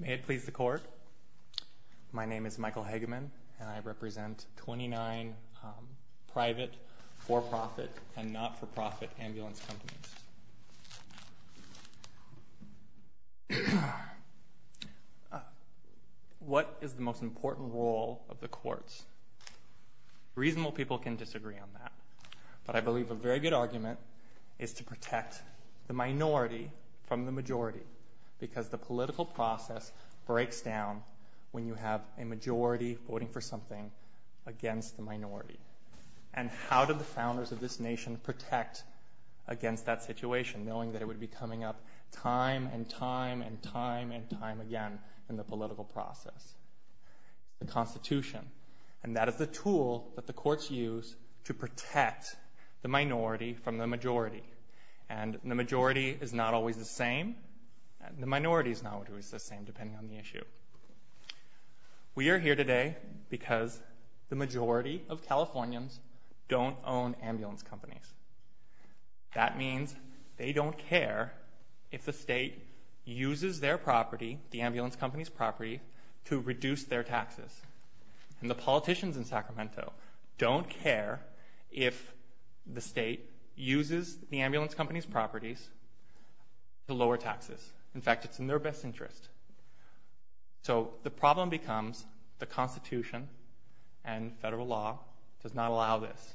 May it please the Court, my name is Michael Hegeman and I represent 29 private, for-profit, and not-for-profit ambulance companies. What is the most important role of the courts? Reasonable people can disagree on that, but I believe a very good argument is to protect the minority from the majority, because the political process breaks down when you have a majority voting for something against the minority. And how do the founders of this nation protect against that situation, knowing that it would be coming up time and time and time and time again in the political process? The Constitution, and that is the tool that the courts use to protect the minority from the majority, and the majority is not always the same, the minority is not always the same depending on the issue. We are here today because the majority of Californians don't own ambulance companies. That means they don't care if the state uses their property, the ambulance company's property, to reduce their taxes. And the politicians in Sacramento don't care if the state uses the ambulance company's properties to lower taxes. In fact, it's in their best interest. So the problem becomes the Constitution and federal law does not allow this.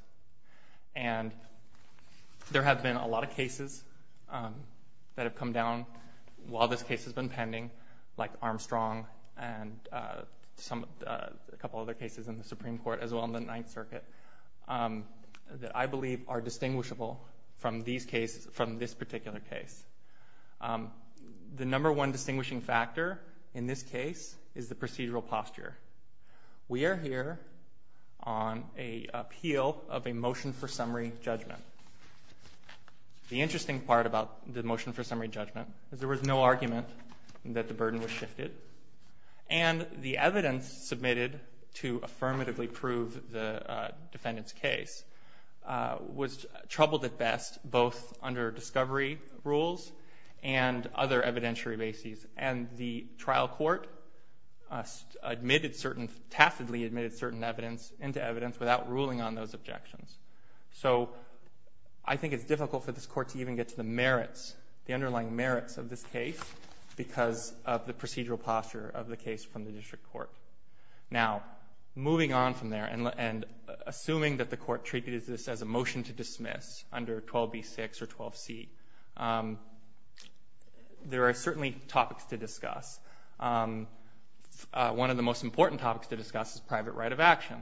And there have been a lot of cases that have come down while this case has been pending, like Armstrong and a couple other cases in the Supreme Court as well in the Ninth Circuit, that I believe are distinguishable from this particular case. The number one distinguishing factor in this case is the procedural posture. We are here on an appeal of a motion for summary judgment. The interesting part about the motion for summary judgment is there was no argument that the burden was shifted. And the evidence submitted to affirmatively prove the defendant's case was troubled at best both under discovery rules and other evidentiary bases. And the trial court admitted certain, tacitly admitted certain evidence into evidence without ruling on those objections. So I think it's difficult for this court to even get to the merits, the underlying merits of this case because of the procedural posture of the case from the district court. Now moving on from there and assuming that the court treated this as a motion to dismiss under 12b6 or 12c, there are certainly topics to discuss. One of the most important topics to discuss is private right of action.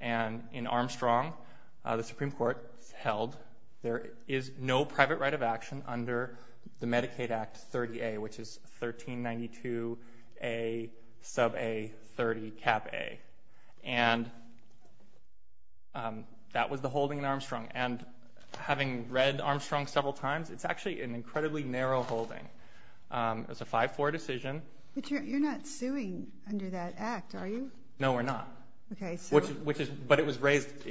And in Armstrong, the Supreme Court held there is no private right of action under the Medicaid Act 30a, which is 1392a sub a 30 cap a. And that was the holding in Armstrong. And having read Armstrong several times, it's actually an incredibly narrow holding. It's a 5-4 decision. But you're not suing under that act, are you? No, we're not. But it was raised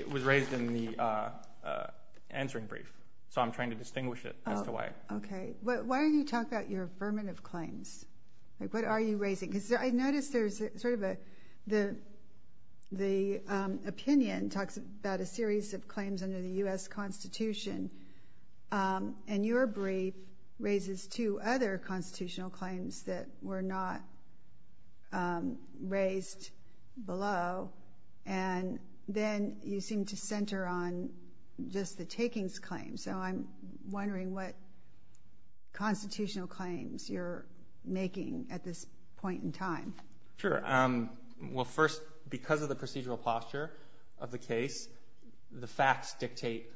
in the answering brief, so I'm trying to distinguish it as to why. Okay. Why don't you talk about your affirmative claims? What are you raising? Because I noticed there's sort of the opinion talks about a series of claims under the U.S. Constitution. And your brief raises two other constitutional claims that were not raised below. And then you seem to center on just the takings claims. So I'm wondering what constitutional claims you're making at this point in time. Sure. Well, first, because of the procedural posture of the case, the facts dictate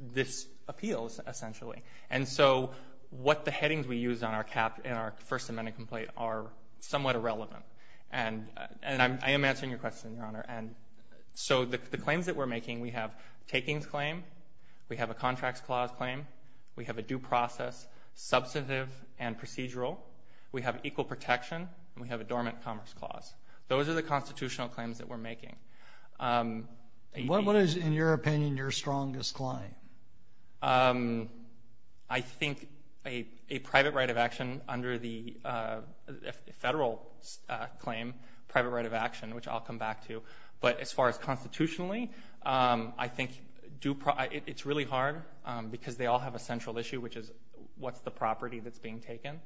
this appeals, essentially. And so what the headings we use in our First Amendment complaint are somewhat irrelevant. And I am answering your question, Your Honor. So the claims that we're making, we have takings claim, we have a contracts clause claim, we have equal protection, and we have a dormant commerce clause. Those are the constitutional claims that we're making. What is, in your opinion, your strongest claim? I think a private right of action under the federal claim, private right of action, which I'll come back to. But as far as constitutionally, I think it's really hard because they all have a central issue, which is what's the property that's being taken.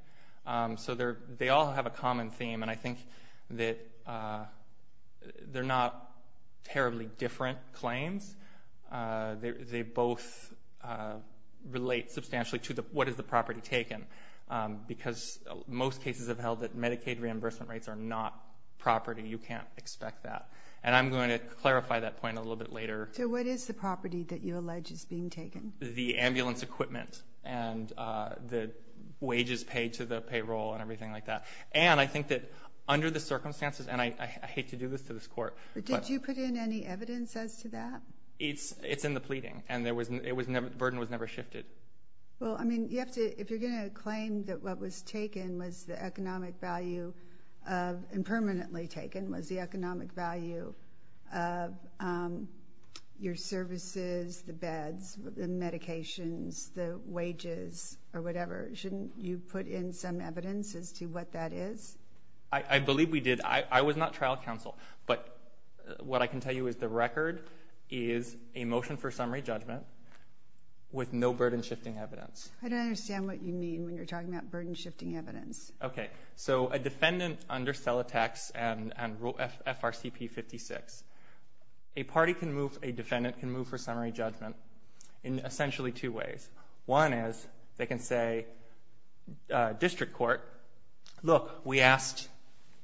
So they all have a common theme. And I think that they're not terribly different claims. They both relate substantially to what is the property taken. Because most cases have held that Medicaid reimbursement rates are not property. You can't expect that. And I'm going to clarify that point a little bit later. So what is the property that you allege is being taken? The ambulance equipment and the wages paid to the payroll and everything like that. And I think that under the circumstances, and I hate to do this to this Court. But did you put in any evidence as to that? It's in the pleading. And the burden was never shifted. Well, I mean, if you're going to claim that what was taken was the economic value, impermanently taken, was the economic value of your services, the beds, the medications, the wages, or whatever, shouldn't you put in some evidence as to what that is? I believe we did. I was not trial counsel. But what I can tell you is the record is a motion for summary judgment with no burden-shifting evidence. I don't understand what you mean when you're talking about burden-shifting evidence. Okay. So a defendant under CELATEX and FRCP 56, a defendant can move for summary judgment in essentially two ways. One is they can say, District Court, look, we asked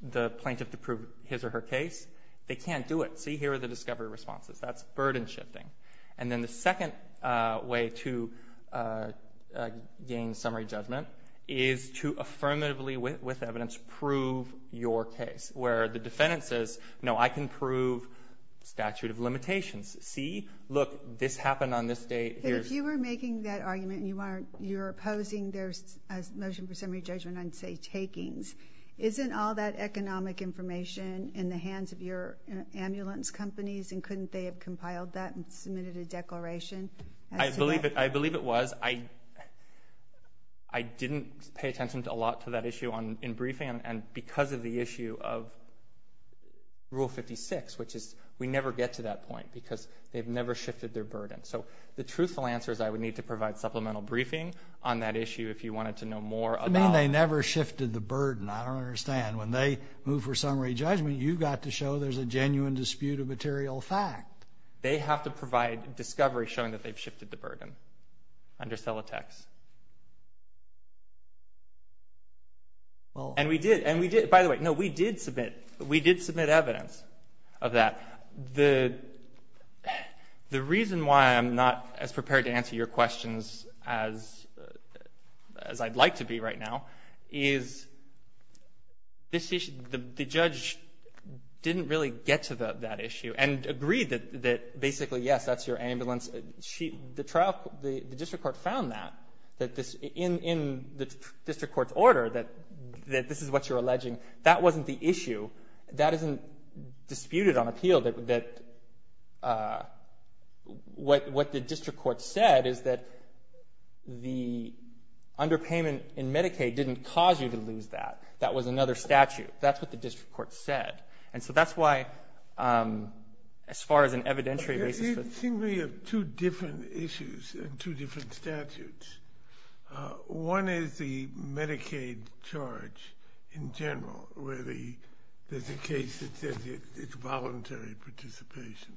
the plaintiff to prove his or her case. They can't do it. See, here are the discovery responses. That's burden-shifting. And then the second way to gain summary judgment is to affirmatively, with evidence, prove your case, where the defendant says, no, I can prove statute of limitations. See, look, this happened on this date. But if you were making that argument and you were opposing their motion for summary judgment on, say, takings, isn't all that economic information in the hands of your ambulance companies and couldn't they have compiled that and submitted a declaration as to that? I believe it was. I didn't pay attention a lot to that issue in briefing, and because of the issue of Rule 56, which is we never get to that point because they've never shifted their burden. So the truthful answer is I would need to provide supplemental briefing on that issue if you wanted to know more about it. You mean they never shifted the burden. I don't understand. When they move for summary judgment, you've got to show there's a genuine dispute of material fact. They have to provide discovery showing that they've shifted the burden under Celotex. And we did. By the way, no, we did submit evidence of that. The reason why I'm not as prepared to answer your questions as I'd like to be right now is the judge didn't really get to that issue and agreed that basically, yes, that's your ambulance. The district court found that in the district court's order that this is what you're alleging. That wasn't the issue. That isn't disputed on appeal. What the district court said is that the underpayment in Medicaid didn't cause you to lose that. That was another statute. That's what the district court said. And so that's why, as far as an evidentiary basis. You seem to have two different issues and two different statutes. One is the Medicaid charge in general where there's a case that says it's voluntary participation.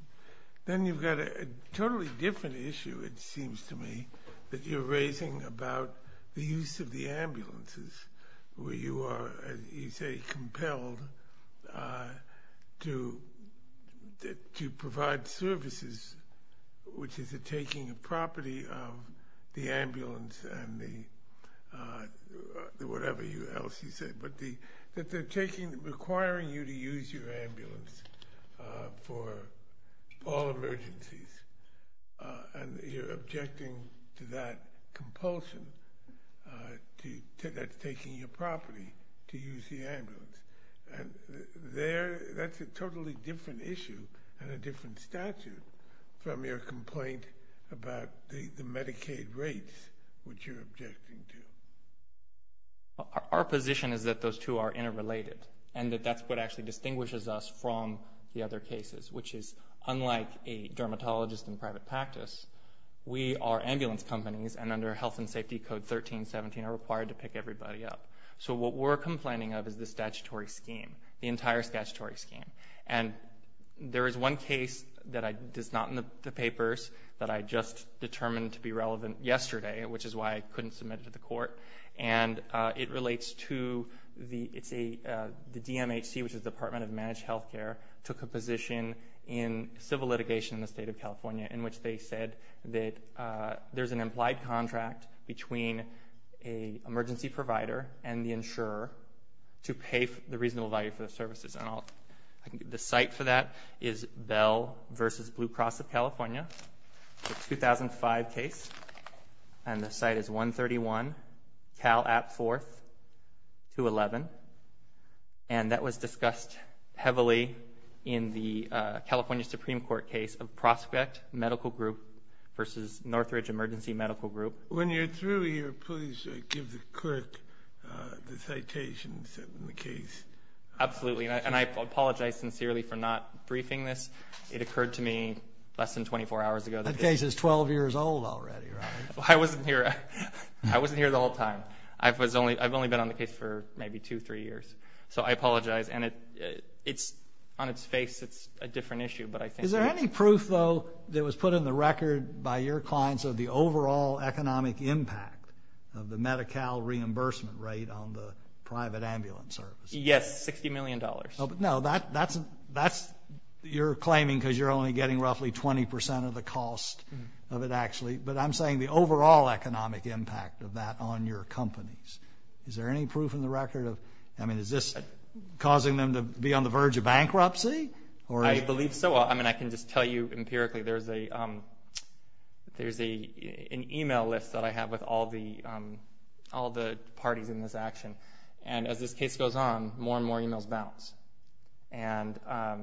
Then you've got a totally different issue, it seems to me, that you're raising about the use of the ambulances where you are, as you say, compelled to provide services, which is a taking of property of the ambulance and the whatever else you say. But that they're requiring you to use your ambulance for all emergencies. And you're objecting to that compulsion that's taking your property to use the ambulance. That's a totally different issue and a different statute from your complaint about the Medicaid rates, which you're objecting to. Our position is that those two are interrelated and that that's what actually distinguishes us from the other cases, which is, unlike a dermatologist in private practice, we are ambulance companies and under Health and Safety Code 1317 are required to pick everybody up. So what we're complaining of is the statutory scheme, the entire statutory scheme. And there is one case that is not in the papers that I just determined to be relevant yesterday, which is why I couldn't submit it to the court, and it relates to the DMHC, which is the Department of Managed Healthcare, took a position in civil litigation in the state of California in which they said that there's an implied contract between an emergency provider and the insurer to pay the reasonable value for the services. The site for that is Bell v. Blue Cross of California, the 2005 case. And the site is 131 Cal App 4th, 211. And that was discussed heavily in the California Supreme Court case of Prospect Medical Group versus Northridge Emergency Medical Group. When you're through here, please give the clerk the citations in the case. Absolutely. And I apologize sincerely for not briefing this. It occurred to me less than 24 hours ago. That case is 12 years old already, right? I wasn't here the whole time. I've only been on the case for maybe two, three years. So I apologize. And on its face, it's a different issue. Is there any proof, though, that was put in the record by your clients of the overall economic impact of the Medi-Cal reimbursement rate on the private ambulance service? Yes, $60 million. No, but that's your claiming because you're only getting roughly 20% of the cost of it, actually. But I'm saying the overall economic impact of that on your companies. Is there any proof in the record? I mean, is this causing them to be on the verge of bankruptcy? I believe so. I mean, I can just tell you empirically there's an e-mail list that I have with all the parties in this action. And as this case goes on, more and more e-mails bounce. And I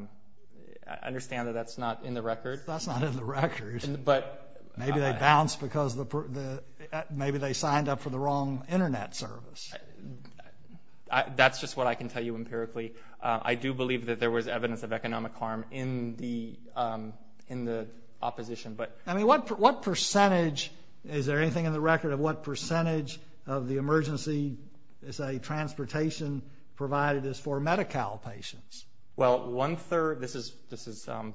understand that that's not in the record. That's not in the record. Maybe they bounce because maybe they signed up for the wrong Internet service. That's just what I can tell you empirically. I do believe that there was evidence of economic harm in the opposition. Is there anything in the record of what percentage of the emergency transportation provided is for Medi-Cal patients? Well, one-third. This is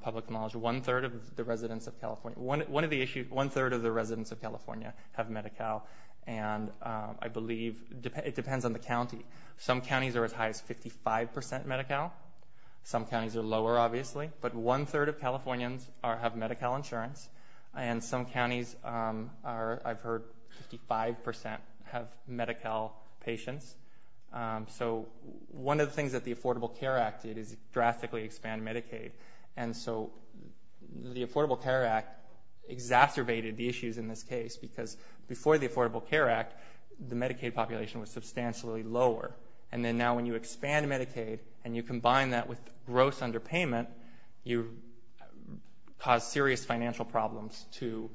public knowledge. One-third of the residents of California have Medi-Cal. And I believe it depends on the county. Some counties are as high as 55% Medi-Cal. Some counties are lower, obviously. But one-third of Californians have Medi-Cal insurance. And some counties are, I've heard, 55% have Medi-Cal patients. So one of the things that the Affordable Care Act did is drastically expand Medicaid. And so the Affordable Care Act exacerbated the issues in this case because before the Affordable Care Act, the Medicaid population was substantially lower. And then now when you expand Medicaid and you combine that with gross underpayment, you cause serious financial problems to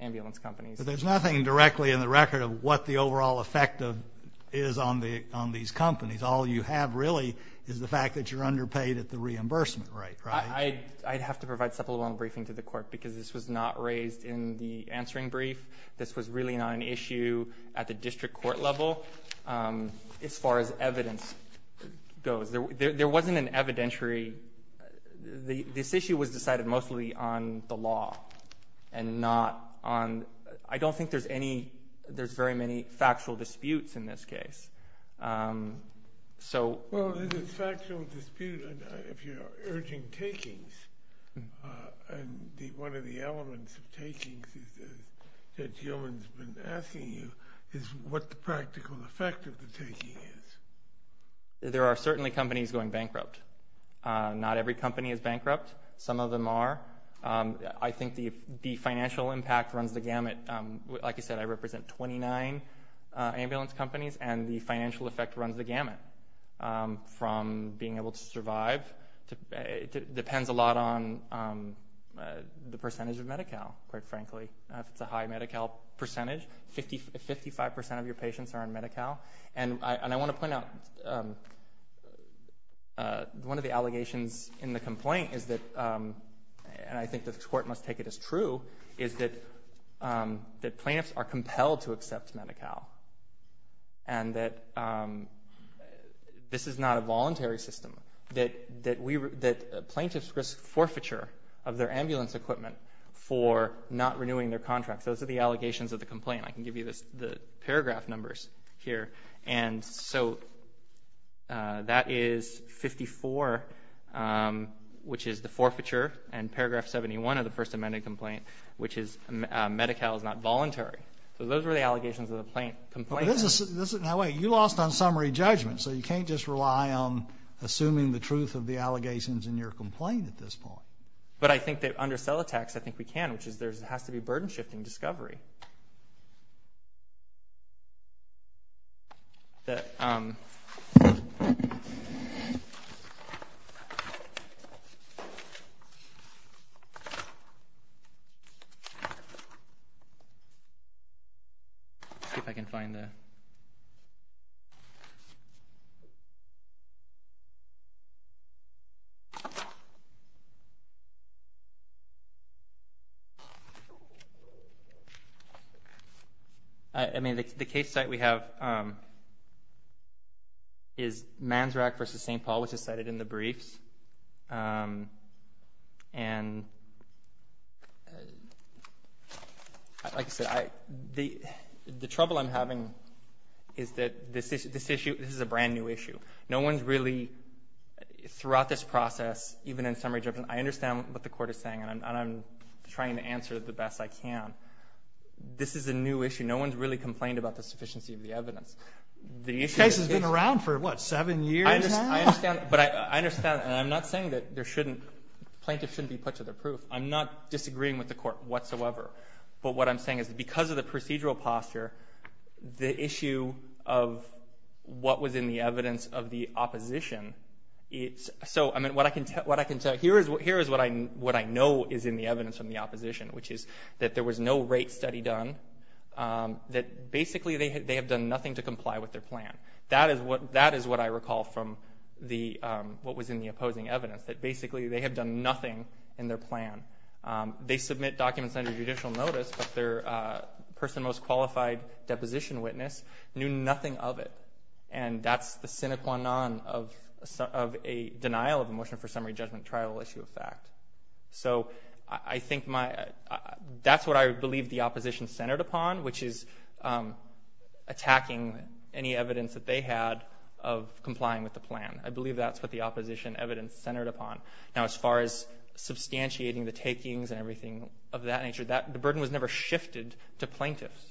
ambulance companies. But there's nothing directly in the record of what the overall effect is on these companies. All you have really is the fact that you're underpaid at the reimbursement rate, right? I'd have to provide supplemental briefing to the court because this was not raised in the answering brief. This was really not an issue at the district court level. As far as evidence goes, there wasn't an evidentiary. This issue was decided mostly on the law and not onóI don't think there's anyó there's very many factual disputes in this case. Soó Well, there's a factual dispute if you're urging takings. And one of the elements of takings that Gilman's been asking you is what the practical effect of the taking is. There are certainly companies going bankrupt. Not every company is bankrupt. Some of them are. I think the financial impact runs the gamut. Like I said, I represent 29 ambulance companies, and the financial effect runs the gamut from being able to survive. It depends a lot on the percentage of Medi-Cal, quite frankly. If it's a high Medi-Cal percentage, 55% of your patients are on Medi-Cal. And I want to point out one of the allegations in the complaint is tható and I think the court must take it as trueó is that plaintiffs are compelled to accept Medi-Cal and that this is not a voluntary system. That plaintiffs risk forfeiture of their ambulance equipment for not renewing their contracts. Those are the allegations of the complaint. I can give you the paragraph numbers here. And so that is 54, which is the forfeiture, and paragraph 71 of the First Amendment complaint, which is Medi-Cal is not voluntary. So those are the allegations of the complaint. Now, wait. You lost on summary judgment, so you can't just rely on assuming the truth of the allegations in your complaint at this point. But I think that under cell attacks, I think we can, which is there has to be burden-shifting discovery. Okay. I mean, the case site we have is Manzrak v. St. Paul, which is cited in the briefs. And like I said, the trouble I'm having is that this issueóthis is a brand-new issue. No one's reallyóthroughout this process, even in summary judgment, I understand what the court is saying, and I'm trying to answer it the best I can. This is a new issue. No one's really complained about the sufficiency of the evidence. This case has been around for, what, seven years now? I understand, but I understandóand I'm not saying that there shouldn'tó plaintiffs shouldn't be put to their proof. I'm not disagreeing with the court whatsoever. But what I'm saying is because of the procedural posture, the issue of what was in the evidence of the oppositionó So, I mean, what I can tellóhere is what I know is in the evidence from the opposition, which is that there was no rate study done, that basically they have done nothing to comply with their plan. That is what I recall from what was in the opposing evidence, that basically they have done nothing in their plan. They submit documents under judicial notice, but their person most qualified deposition witness knew nothing of it. And that's the sine qua non of a denial of a motion for summary judgment trial issue of fact. So, I think myóthat's what I believe the opposition centered upon, which is attacking any evidence that they had of complying with the plan. I believe that's what the opposition evidence centered upon. Now, as far as substantiating the takings and everything of that nature, the burden was never shifted to plaintiffs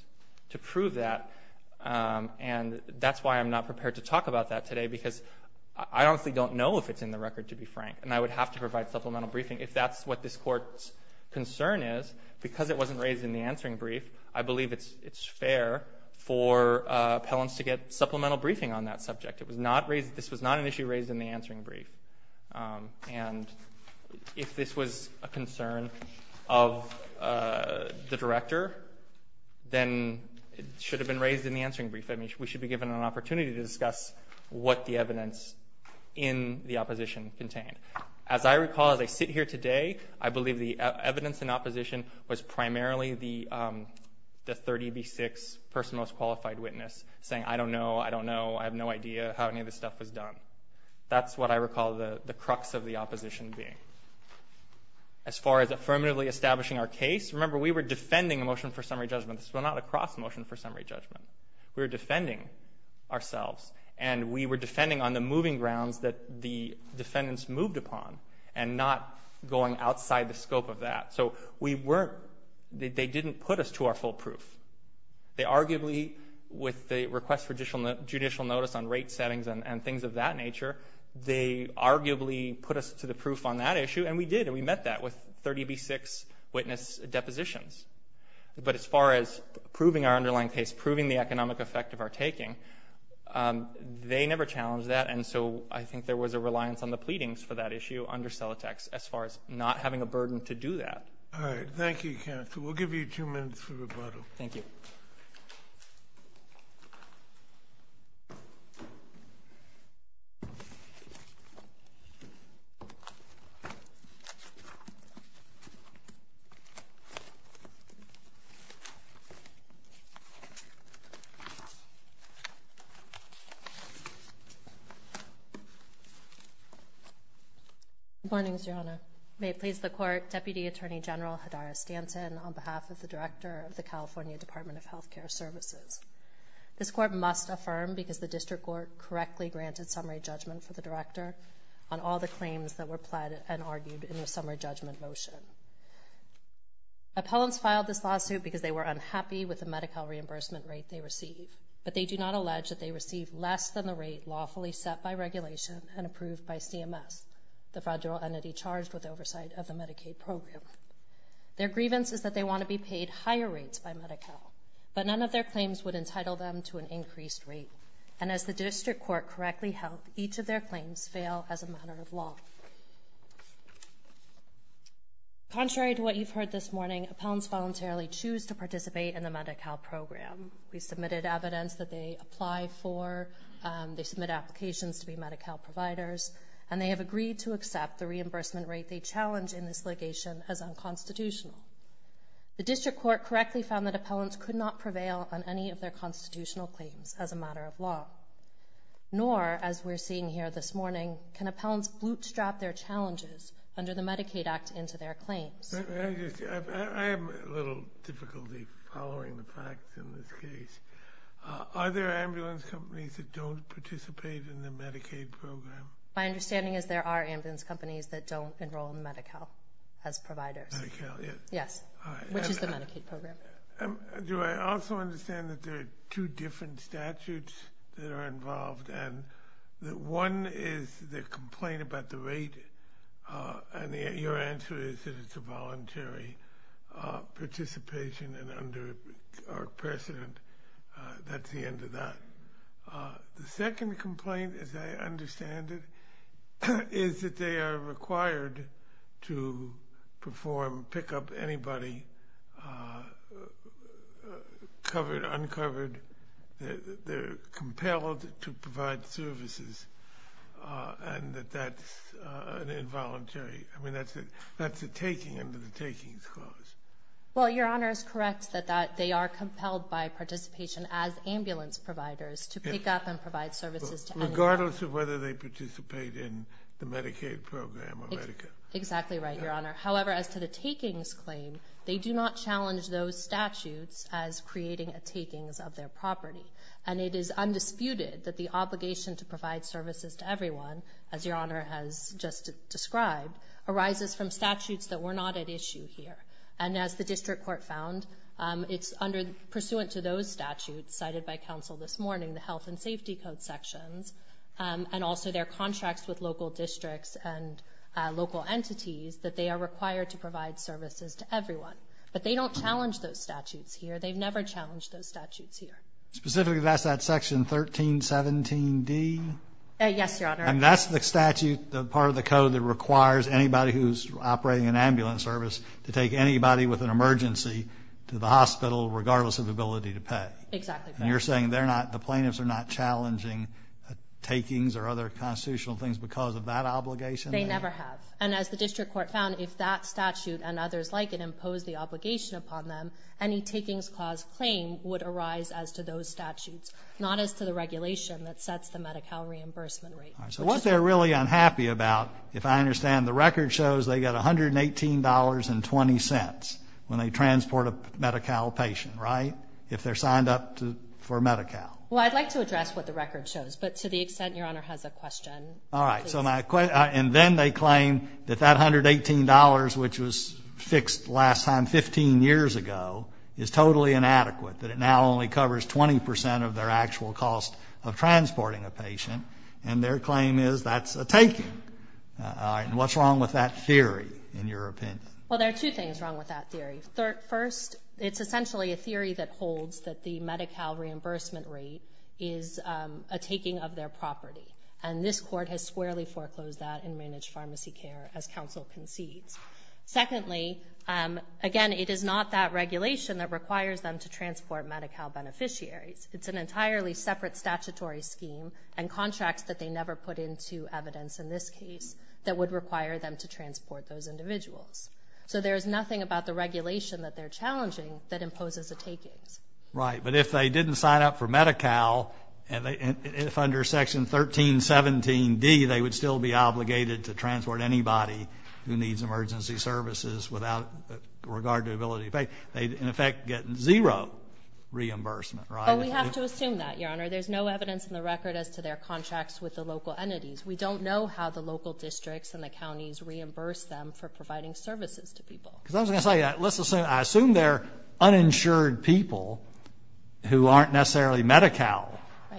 to prove that. And that's why I'm not prepared to talk about that today, because I honestly don't know if it's in the record, to be frank, and I would have to provide supplemental briefing. If that's what this Court's concern is, because it wasn't raised in the answering brief, I believe it's fair for appellants to get supplemental briefing on that subject. It was not raisedóthis was not an issue raised in the answering brief. And if this was a concern of the director, then it should have been raised in the answering brief. I mean, we should be given an opportunity to discuss what the evidence in the opposition contained. As I recall, as I sit here today, I believe the evidence in opposition was primarily the 30B6 person most qualified witness, saying, I don't know, I don't know, I have no idea how any of this stuff was done. That's what I recall the crux of the opposition being. As far as affirmatively establishing our case, remember, we were defending a motion for summary judgment. This was not a cross-motion for summary judgment. We were defending ourselves, and we were defending on the moving grounds that the defendants moved upon, and not going outside the scope of that. So we weren'tóthey didn't put us to our full proof. They arguably, with the request for judicial notice on rate settings and things of that nature, they arguably put us to the proof on that issue, and we did, and we met that with 30B6 witness depositions. But as far as proving our underlying case, proving the economic effect of our taking, they never challenged that, and so I think there was a reliance on the pleadings for that issue under Celotex, as far as not having a burden to do that. All right. Thank you, counsel. We'll give you two minutes for rebuttal. Thank you. Good morning, Mr. Hanna. May it please the Court, Deputy Attorney General Hadara Stanton, on behalf of the Director of the California Department of Health Care Services. This Court must affirm, because the District Court correctly granted summary judgment for the Director, on all the claims that were pled and argued in the summary judgment motion. Appellants filed this lawsuit because they were unhappy with the Medi-Cal reimbursement rate they received, but they do not allege that they received less than the rate lawfully set by regulation and approved by CMS, the federal entity charged with oversight of the Medicaid program. Their grievance is that they want to be paid higher rates by Medi-Cal, but none of their claims would entitle them to an increased rate. And as the District Court correctly held, each of their claims fail as a matter of law. Contrary to what you've heard this morning, appellants voluntarily choose to participate in the Medi-Cal program. We submitted evidence that they apply for, they submit applications to be Medi-Cal providers, and they have agreed to accept the reimbursement rate they challenge in this litigation as unconstitutional. The District Court correctly found that appellants could not prevail on any of their constitutional claims as a matter of law. Nor, as we're seeing here this morning, can appellants bootstrap their challenges under the Medicaid Act into their claims. I have a little difficulty following the facts in this case. Are there ambulance companies that don't participate in the Medicaid program? My understanding is there are ambulance companies that don't enroll in Medi-Cal as providers. Medi-Cal, yes. Yes, which is the Medicaid program. Do I also understand that there are two different statutes that are involved, and that one is the complaint about the rate, and your answer is that it's a voluntary participation and under precedent. That's the end of that. The second complaint, as I understand it, is that they are required to perform, pick up anybody, covered, uncovered. They're compelled to provide services, and that that's an involuntary. I mean, that's a taking under the takings clause. Well, Your Honor, it's correct that they are compelled by participation as ambulance providers to pick up and provide services to anybody. Regardless of whether they participate in the Medicaid program or Medi-Cal. Exactly right, Your Honor. However, as to the takings claim, they do not challenge those statutes as creating a takings of their property, and it is undisputed that the obligation to provide services to everyone, as Your Honor has just described, arises from statutes that were not at issue here. And as the district court found, it's pursuant to those statutes cited by counsel this morning, the health and safety code sections, and also their contracts with local districts and local entities, that they are required to provide services to everyone. But they don't challenge those statutes here. They've never challenged those statutes here. Specifically, that's that section 1317D? Yes, Your Honor. And that's the statute, part of the code, that requires anybody who's operating an ambulance service to take anybody with an emergency to the hospital regardless of ability to pay. Exactly right. And you're saying the plaintiffs are not challenging takings or other constitutional things because of that obligation? They never have. And as the district court found, if that statute and others like it impose the obligation upon them, any takings clause claim would arise as to those statutes, not as to the regulation that sets the Medi-Cal reimbursement rate. All right. So what they're really unhappy about, if I understand, the record shows they get $118.20 when they transport a Medi-Cal patient, right, if they're signed up for Medi-Cal? Well, I'd like to address what the record shows. But to the extent Your Honor has a question, please. All right. And then they claim that that $118, which was fixed last time 15 years ago, is totally inadequate, that it now only covers 20 percent of their actual cost of transporting a patient. And their claim is that's a taking. All right. And what's wrong with that theory, in your opinion? Well, there are two things wrong with that theory. First, it's essentially a theory that holds that the Medi-Cal reimbursement rate is a taking of their property. And this court has squarely foreclosed that in managed pharmacy care, as counsel concedes. Secondly, again, it is not that regulation that requires them to transport Medi-Cal beneficiaries. It's an entirely separate statutory scheme and contracts that they never put into evidence in this case that would require them to transport those individuals. So there is nothing about the regulation that they're challenging that imposes a taking. Right. But if they didn't sign up for Medi-Cal, if under Section 1317D they would still be obligated to transport anybody who needs emergency services without regard to ability to pay, they'd, in effect, get zero reimbursement, right? Well, we have to assume that, Your Honor. There's no evidence in the record as to their contracts with the local entities. We don't know how the local districts and the counties reimburse them for providing services to people. Because I was going to say, let's assume they're uninsured people who aren't necessarily Medi-Cal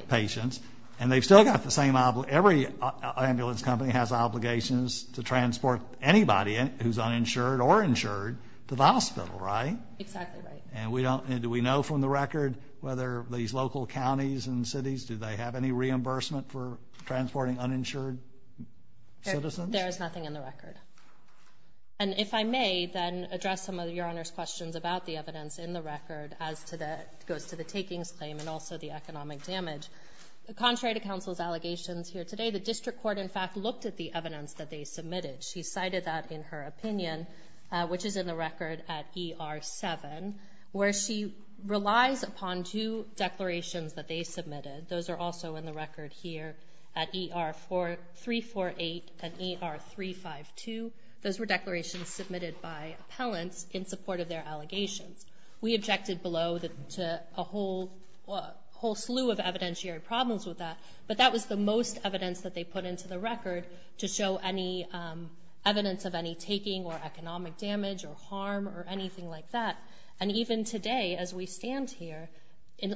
patients, and they've still got the same obligation. Every ambulance company has obligations to transport anybody who's uninsured or insured to the hospital, right? Exactly right. And do we know from the record whether these local counties and cities, do they have any reimbursement for transporting uninsured citizens? There is nothing in the record. And if I may, then, address some of Your Honor's questions about the evidence in the record as it goes to the takings claim and also the economic damage. Contrary to counsel's allegations here today, the district court, in fact, looked at the evidence that they submitted. She cited that in her opinion, which is in the record at ER-7, where she relies upon two declarations that they submitted. Those are also in the record here at ER-348 and ER-352. Those were declarations submitted by appellants in support of their allegations. We objected below to a whole slew of evidentiary problems with that, but that was the most evidence that they put into the record to show any evidence of any taking or economic damage or harm or anything like that. And even today, as we stand here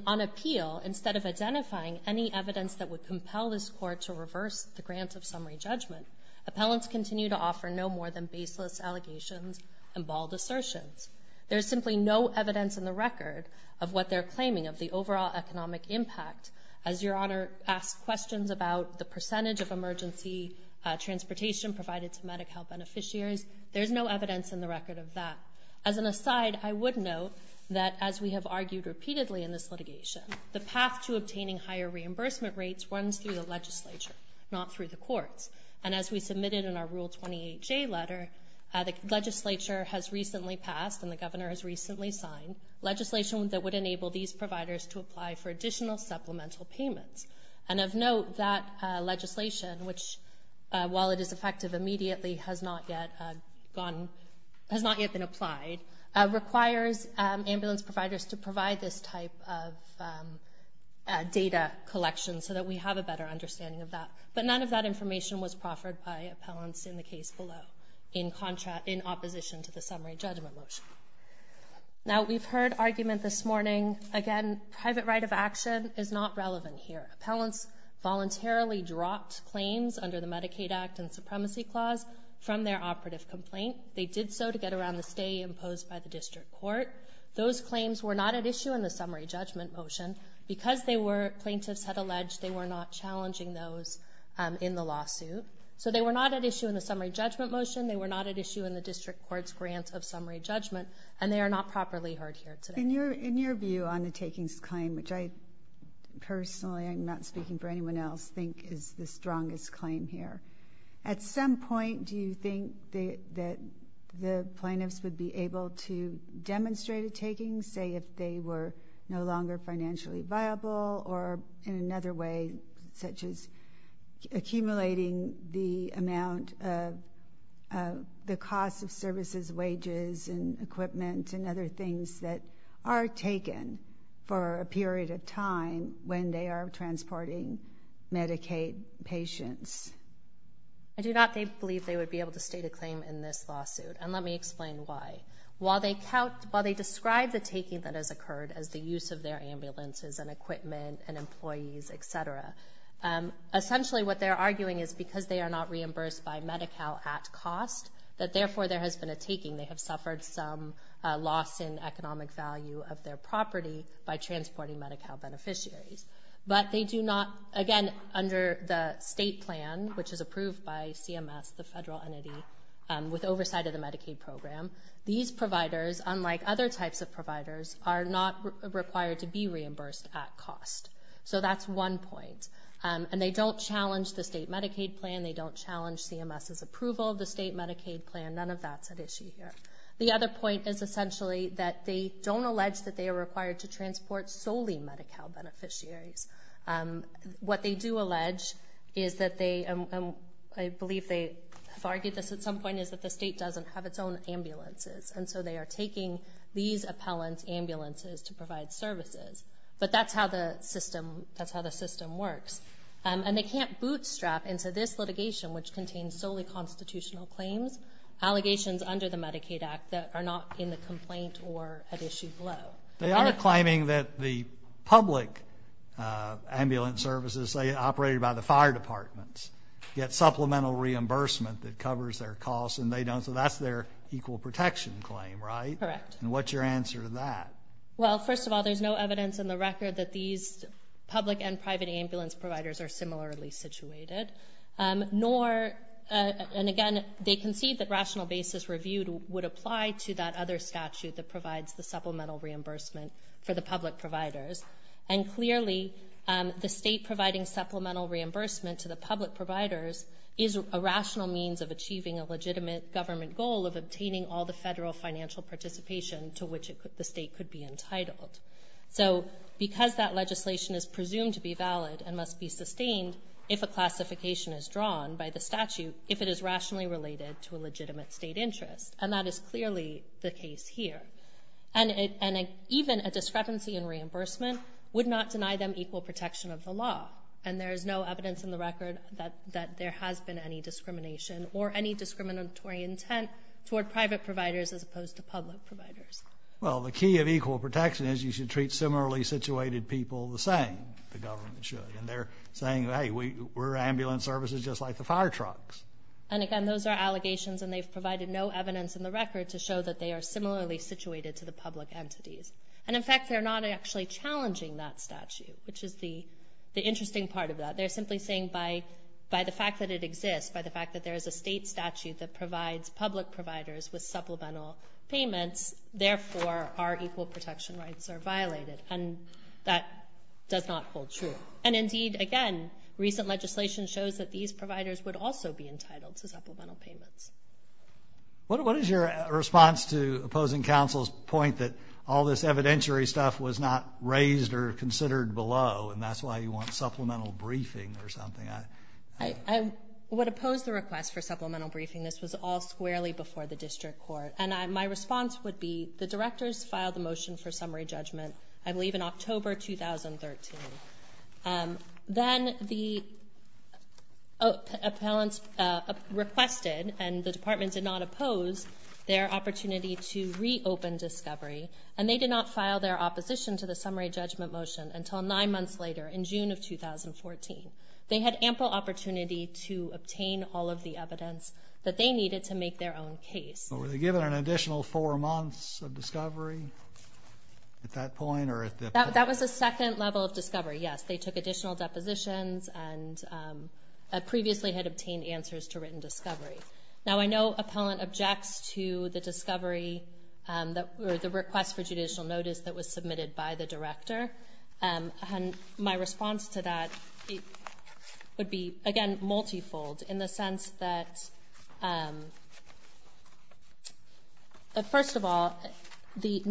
on appeal, instead of identifying any evidence that would compel this court to reverse the grant of summary judgment, appellants continue to offer no more than baseless allegations and bald assertions. There's simply no evidence in the record of what they're claiming, of the overall economic impact. As Your Honor asked questions about the percentage of emergency transportation provided to Medi-Cal beneficiaries, there's no evidence in the record of that. As an aside, I would note that, as we have argued repeatedly in this litigation, the path to obtaining higher reimbursement rates runs through the legislature, not through the courts. And as we submitted in our Rule 28J letter, the legislature has recently passed and the governor has recently signed legislation that would enable these providers to apply for additional supplemental payments. And of note, that legislation, which, while it is effective immediately, has not yet been applied, requires ambulance providers to provide this type of data collection so that we have a better understanding of that. But none of that information was proffered by appellants in the case below, in opposition to the summary judgment motion. Now, we've heard argument this morning. Again, private right of action is not relevant here. Appellants voluntarily dropped claims under the Medicaid Act and Supremacy Clause from their operative complaint. They did so to get around the stay imposed by the district court. Those claims were not at issue in the summary judgment motion because plaintiffs had alleged they were not challenging those in the lawsuit. So they were not at issue in the summary judgment motion, they were not at issue in the district court's grant of summary judgment, and they are not properly heard here today. In your view on the takings claim, which I personally, I'm not speaking for anyone else, think is the strongest claim here, at some point do you think that the plaintiffs would be able to demonstrate a taking, say if they were no longer financially viable, or in another way, such as accumulating the amount of the cost of services, wages and equipment and other things that are taken for a period of time when they are transporting Medicaid patients? I do not believe they would be able to state a claim in this lawsuit, and let me explain why. While they describe the taking that has occurred as the use of their ambulances and equipment and employees, et cetera, essentially what they're arguing is because they are not reimbursed by Medi-Cal at cost, that therefore there has been a taking, they have suffered some loss in economic value of their property by transporting Medi-Cal beneficiaries. But they do not, again, under the state plan, which is approved by CMS, the federal entity, with oversight of the Medicaid program, these providers, unlike other types of providers, are not required to be reimbursed at cost. So that's one point. And they don't challenge the state Medicaid plan, they don't challenge CMS's approval of the state Medicaid plan, none of that's at issue here. The other point is essentially that they don't allege that they are required to transport solely Medi-Cal beneficiaries. What they do allege is that they, and I believe they have argued this at some point, is that the state doesn't have its own ambulances, and so they are taking these appellants' ambulances to provide services. But that's how the system works. And they can't bootstrap into this litigation, which contains solely constitutional claims, allegations under the Medicaid Act that are not in the complaint or at issue below. They are claiming that the public ambulance services, say, operated by the fire departments, get supplemental reimbursement that covers their costs, and they don't, so that's their equal protection claim, right? Correct. And what's your answer to that? Well, first of all, there's no evidence in the record that these public and private ambulance providers are similarly situated, nor, and again, they concede that rational basis reviewed would apply to that other statute that provides the supplemental reimbursement for the public providers. And clearly, the state providing supplemental reimbursement to the public providers is a rational means of achieving a legitimate government goal of obtaining all the federal financial participation to which the state could be entitled. So because that legislation is presumed to be valid and must be sustained if a classification is drawn by the statute, if it is rationally related to a legitimate state interest, and that is clearly the case here. And even a discrepancy in reimbursement would not deny them equal protection of the law. And there is no evidence in the record that there has been any discrimination or any discriminatory intent toward private providers as opposed to public providers. Well, the key of equal protection is you should treat similarly situated people the same. The government should. And they're saying, hey, we're ambulance services just like the fire trucks. And again, those are allegations, and they've provided no evidence in the record to show that they are similarly situated to the public entities. And in fact, they're not actually challenging that statute, which is the interesting part of that. They're simply saying by the fact that it exists, by the fact that there is a state statute that provides public providers with supplemental payments, therefore our equal protection rights are violated. And that does not hold true. And indeed, again, recent legislation shows that these providers would also be entitled to supplemental payments. What is your response to opposing counsel's point that all this evidentiary stuff was not raised or considered below, and that's why you want supplemental briefing or something? I would oppose the request for supplemental briefing. This was all squarely before the district court. And my response would be the directors filed a motion for summary judgment, I believe in October 2013. Then the appellants requested, and the department did not oppose their opportunity to reopen discovery, and they did not file their opposition to the summary judgment motion until nine months later in June of 2014. They had ample opportunity to obtain all of the evidence that they needed to make their own case. But were they given an additional four months of discovery at that point? That was a second level of discovery, yes. They took additional depositions and previously had obtained answers to written discovery. Now I know appellant objects to the discovery or the request for judicial notice that was submitted by the director. And my response to that would be, again, multifold, in the sense that, first of all, the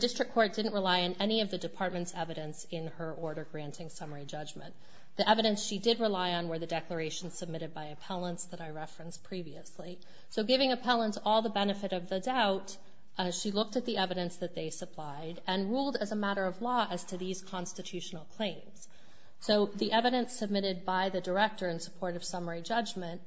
district court didn't rely on any of the department's evidence in her order granting summary judgment. The evidence she did rely on were the declarations submitted by appellants that I referenced previously. So giving appellants all the benefit of the doubt, she looked at the evidence that they supplied and ruled as a matter of law as to these constitutional claims. So the evidence submitted by the director in support of summary judgment,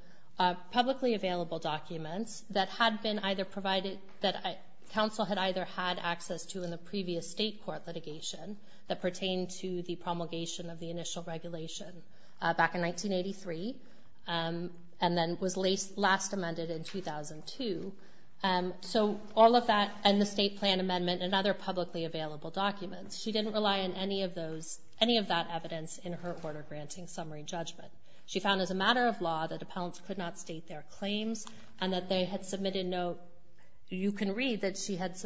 publicly available documents that had been either provided, that counsel had either had access to in the previous state court litigation that pertained to the promulgation of the initial regulation back in 1983 and then was last amended in 2002. So all of that and the state plan amendment and other publicly available documents, she didn't rely on any of that evidence in her order granting summary judgment. She found as a matter of law that appellants could not state their claims and that they had submitted note. You can read that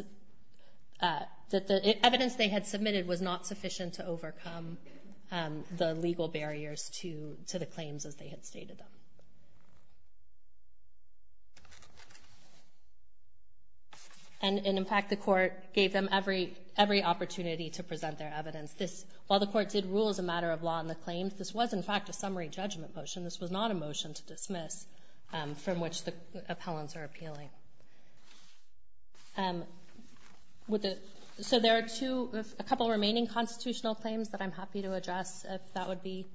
the evidence they had submitted was not sufficient to overcome the legal barriers to the claims as they had stated them. And, in fact, the court gave them every opportunity to present their evidence. While the court did rule as a matter of law on the claims, this was, in fact, a summary judgment motion. This was not a motion to dismiss from which the appellants are appealing. So there are a couple of remaining constitutional claims that I'm happy to address if that would be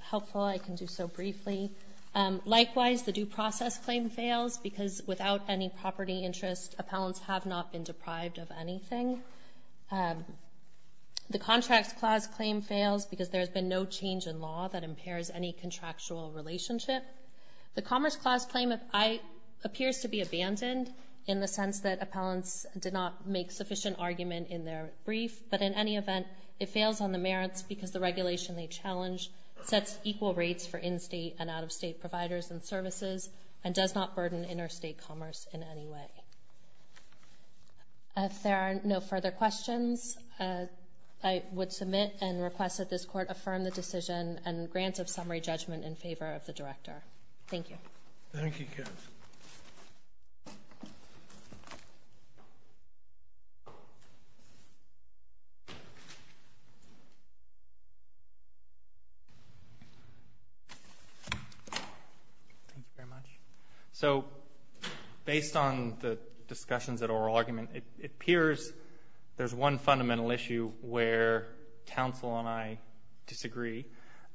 helpful. I can do so briefly. Likewise, the Due Process Claim fails because without any property interest, appellants have not been deprived of anything. The Contracts Clause Claim fails because there has been no change in law that impairs any contractual relationship. The Commerce Clause Claim appears to be abandoned in the sense that appellants did not make sufficient argument in their brief, but in any event, it fails on the merits because the regulation they challenged sets equal rates for in-state and out-of-state providers and services and does not burden interstate commerce in any way. If there are no further questions, I would submit and request that this court affirm the decision and grant of summary judgment in favor of the Director. Thank you. Thank you, counsel. Thank you very much. So based on the discussions at oral argument, it appears there's one fundamental issue where counsel and I disagree,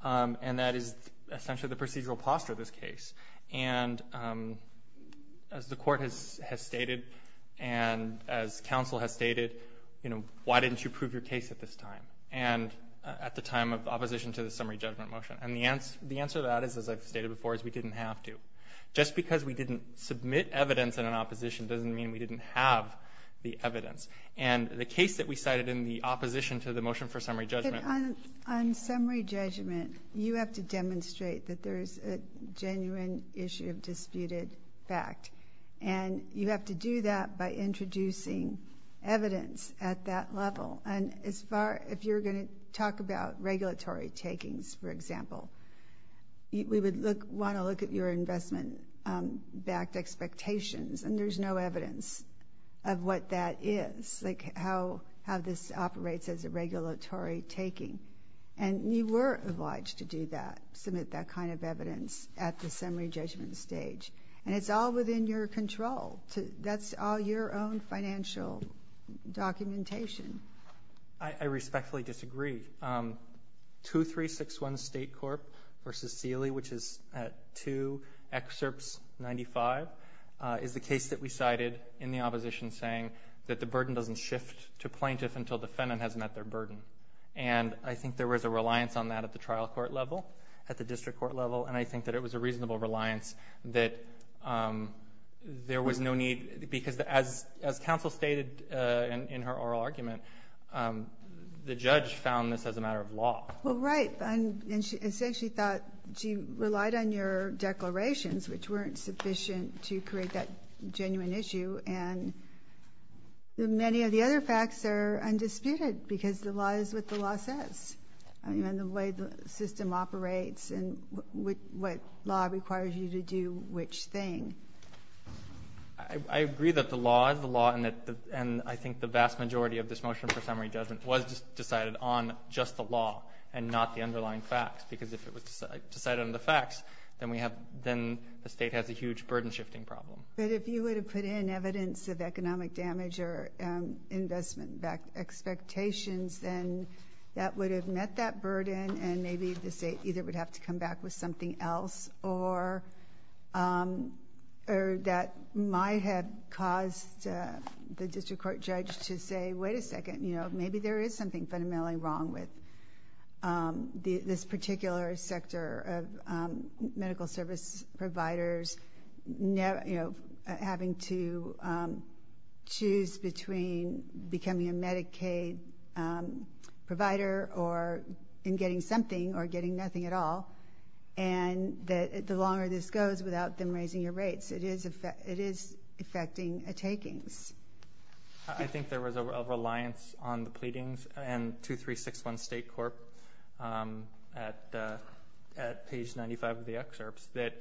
and that is essentially the procedural posture of this case. And as the court has stated and as counsel has stated, why didn't you prove your case at this time and at the time of opposition to the summary judgment motion? And the answer to that is, as I've stated before, is we didn't have to. Just because we didn't submit evidence in an opposition doesn't mean we didn't have the evidence. And the case that we cited in the opposition to the motion for summary judgment On summary judgment, you have to demonstrate that there's a genuine issue of disputed fact. And you have to do that by introducing evidence at that level. And if you're going to talk about regulatory takings, for example, we would want to look at your investment-backed expectations, and there's no evidence of what that is, like how this operates as a regulatory taking. And you were obliged to do that, submit that kind of evidence at the summary judgment stage. And it's all within your control. That's all your own financial documentation. I respectfully disagree. 2361 State Corp. v. Seeley, which is at 2 excerpts 95, is the case that we cited in the opposition saying that the burden doesn't shift to plaintiff until defendant has met their burden. And I think there was a reliance on that at the trial court level, at the district court level, and I think that it was a reasonable reliance that there was no need. Because as counsel stated in her oral argument, the judge found this as a matter of law. Well, right. And she essentially thought she relied on your declarations, which weren't sufficient to create that genuine issue. And many of the other facts are undisputed, because the law is what the law says, and the way the system operates and what law requires you to do which thing. I agree that the law is the law, and I think the vast majority of this motion for summary judgment was decided on just the law and not the underlying facts. Because if it was decided on the facts, then the state has a huge burden-shifting problem. But if you were to put in evidence of economic damage or investment expectations, then that would have met that burden, and maybe the state either would have to come back with something else or that might have caused the district court judge to say, wait a second, maybe there is something fundamentally wrong with this particular sector of medical service providers having to choose between becoming a Medicaid provider or getting something or getting nothing at all. And the longer this goes without them raising your rates, it is affecting takings. I think there was a reliance on the pleadings and 2361 State Corp at page 95 of the excerpts that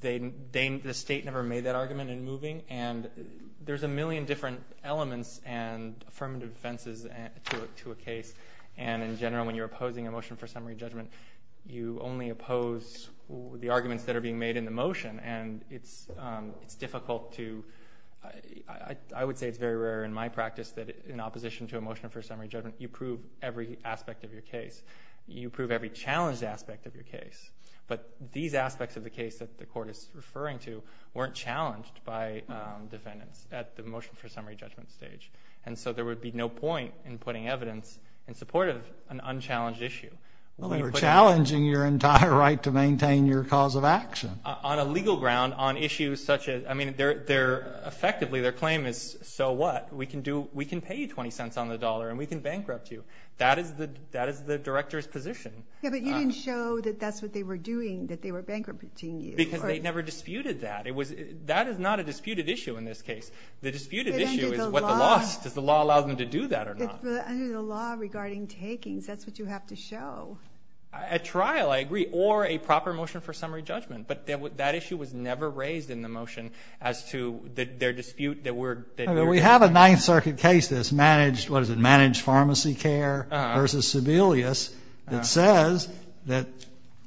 the state never made that argument in moving, and there is a million different elements and affirmative defenses to a case, and in general when you are opposing a motion for summary judgment, you only oppose the arguments that are being made in the motion, and it is difficult to, I would say it is very rare in my practice that in opposition to a motion for summary judgment, you prove every aspect of your case. You prove every challenged aspect of your case, but these aspects of the case that the court is referring to weren't challenged by defendants at the motion for summary judgment stage, and so there would be no point in putting evidence in support of an unchallenged issue. We were challenging your entire right to maintain your cause of action. On a legal ground, on issues such as, I mean, effectively their claim is, so what, we can pay you 20 cents on the dollar and we can bankrupt you. That is the director's position. Yeah, but you didn't show that that's what they were doing, that they were bankrupting you. Because they never disputed that. That is not a disputed issue in this case. The disputed issue is does the law allow them to do that or not. Under the law regarding takings, that's what you have to show. A trial, I agree, or a proper motion for summary judgment. But that issue was never raised in the motion as to their dispute. We have a Ninth Circuit case that's managed, what is it, managed pharmacy care versus Sebelius that says that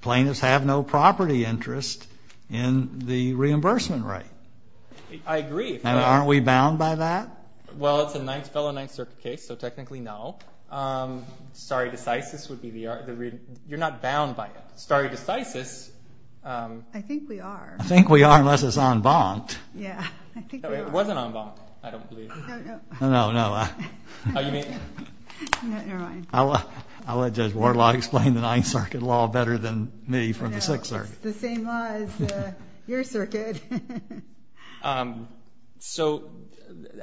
plaintiffs have no property interest in the reimbursement rate. I agree. And aren't we bound by that? Well, it's a fellow Ninth Circuit case, so technically no. Stare decisis would be the reason. You're not bound by it. Stare decisis. I think we are. I think we are unless it's en banc. Yeah, I think we are. It wasn't en banc, I don't believe. No, no. Oh, you mean? Never mind. I'll let Judge Wardlaw explain the Ninth Circuit law better than me from the Sixth Circuit. It's the same law as your circuit. So,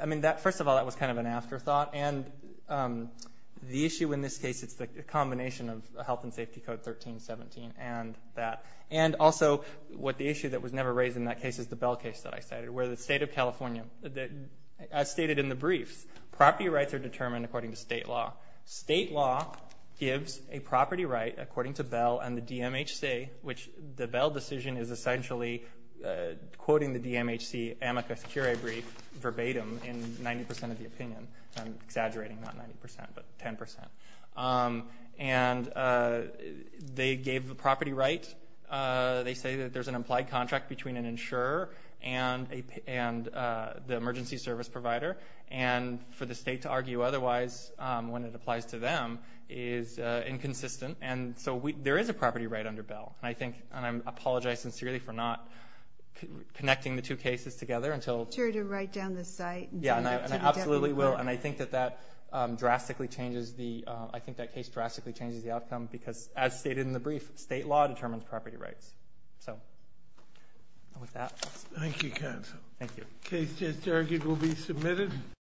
I mean, first of all, that was kind of an afterthought. And the issue in this case, it's the combination of Health and Safety Code 1317 and that. And also what the issue that was never raised in that case is the Bell case that I cited, where the state of California, as stated in the briefs, property rights are determined according to state law. State law gives a property right according to Bell and the DMHC, which the Bell decision is essentially quoting the DMHC amicus curiae brief verbatim in 90% of the opinion. I'm exaggerating, not 90%, but 10%. And they gave the property right. They say that there's an implied contract between an insurer and the emergency service provider. And for the state to argue otherwise when it applies to them is inconsistent. And so there is a property right under Bell. And I think, and I apologize sincerely for not connecting the two cases together until... Be sure to write down the site. Yeah, and I absolutely will. And I think that that drastically changes the... I think that case drastically changes the outcome because, as stated in the brief, state law determines property rights. So, with that... Thank you, counsel. Thank you. The case is argued will be submitted.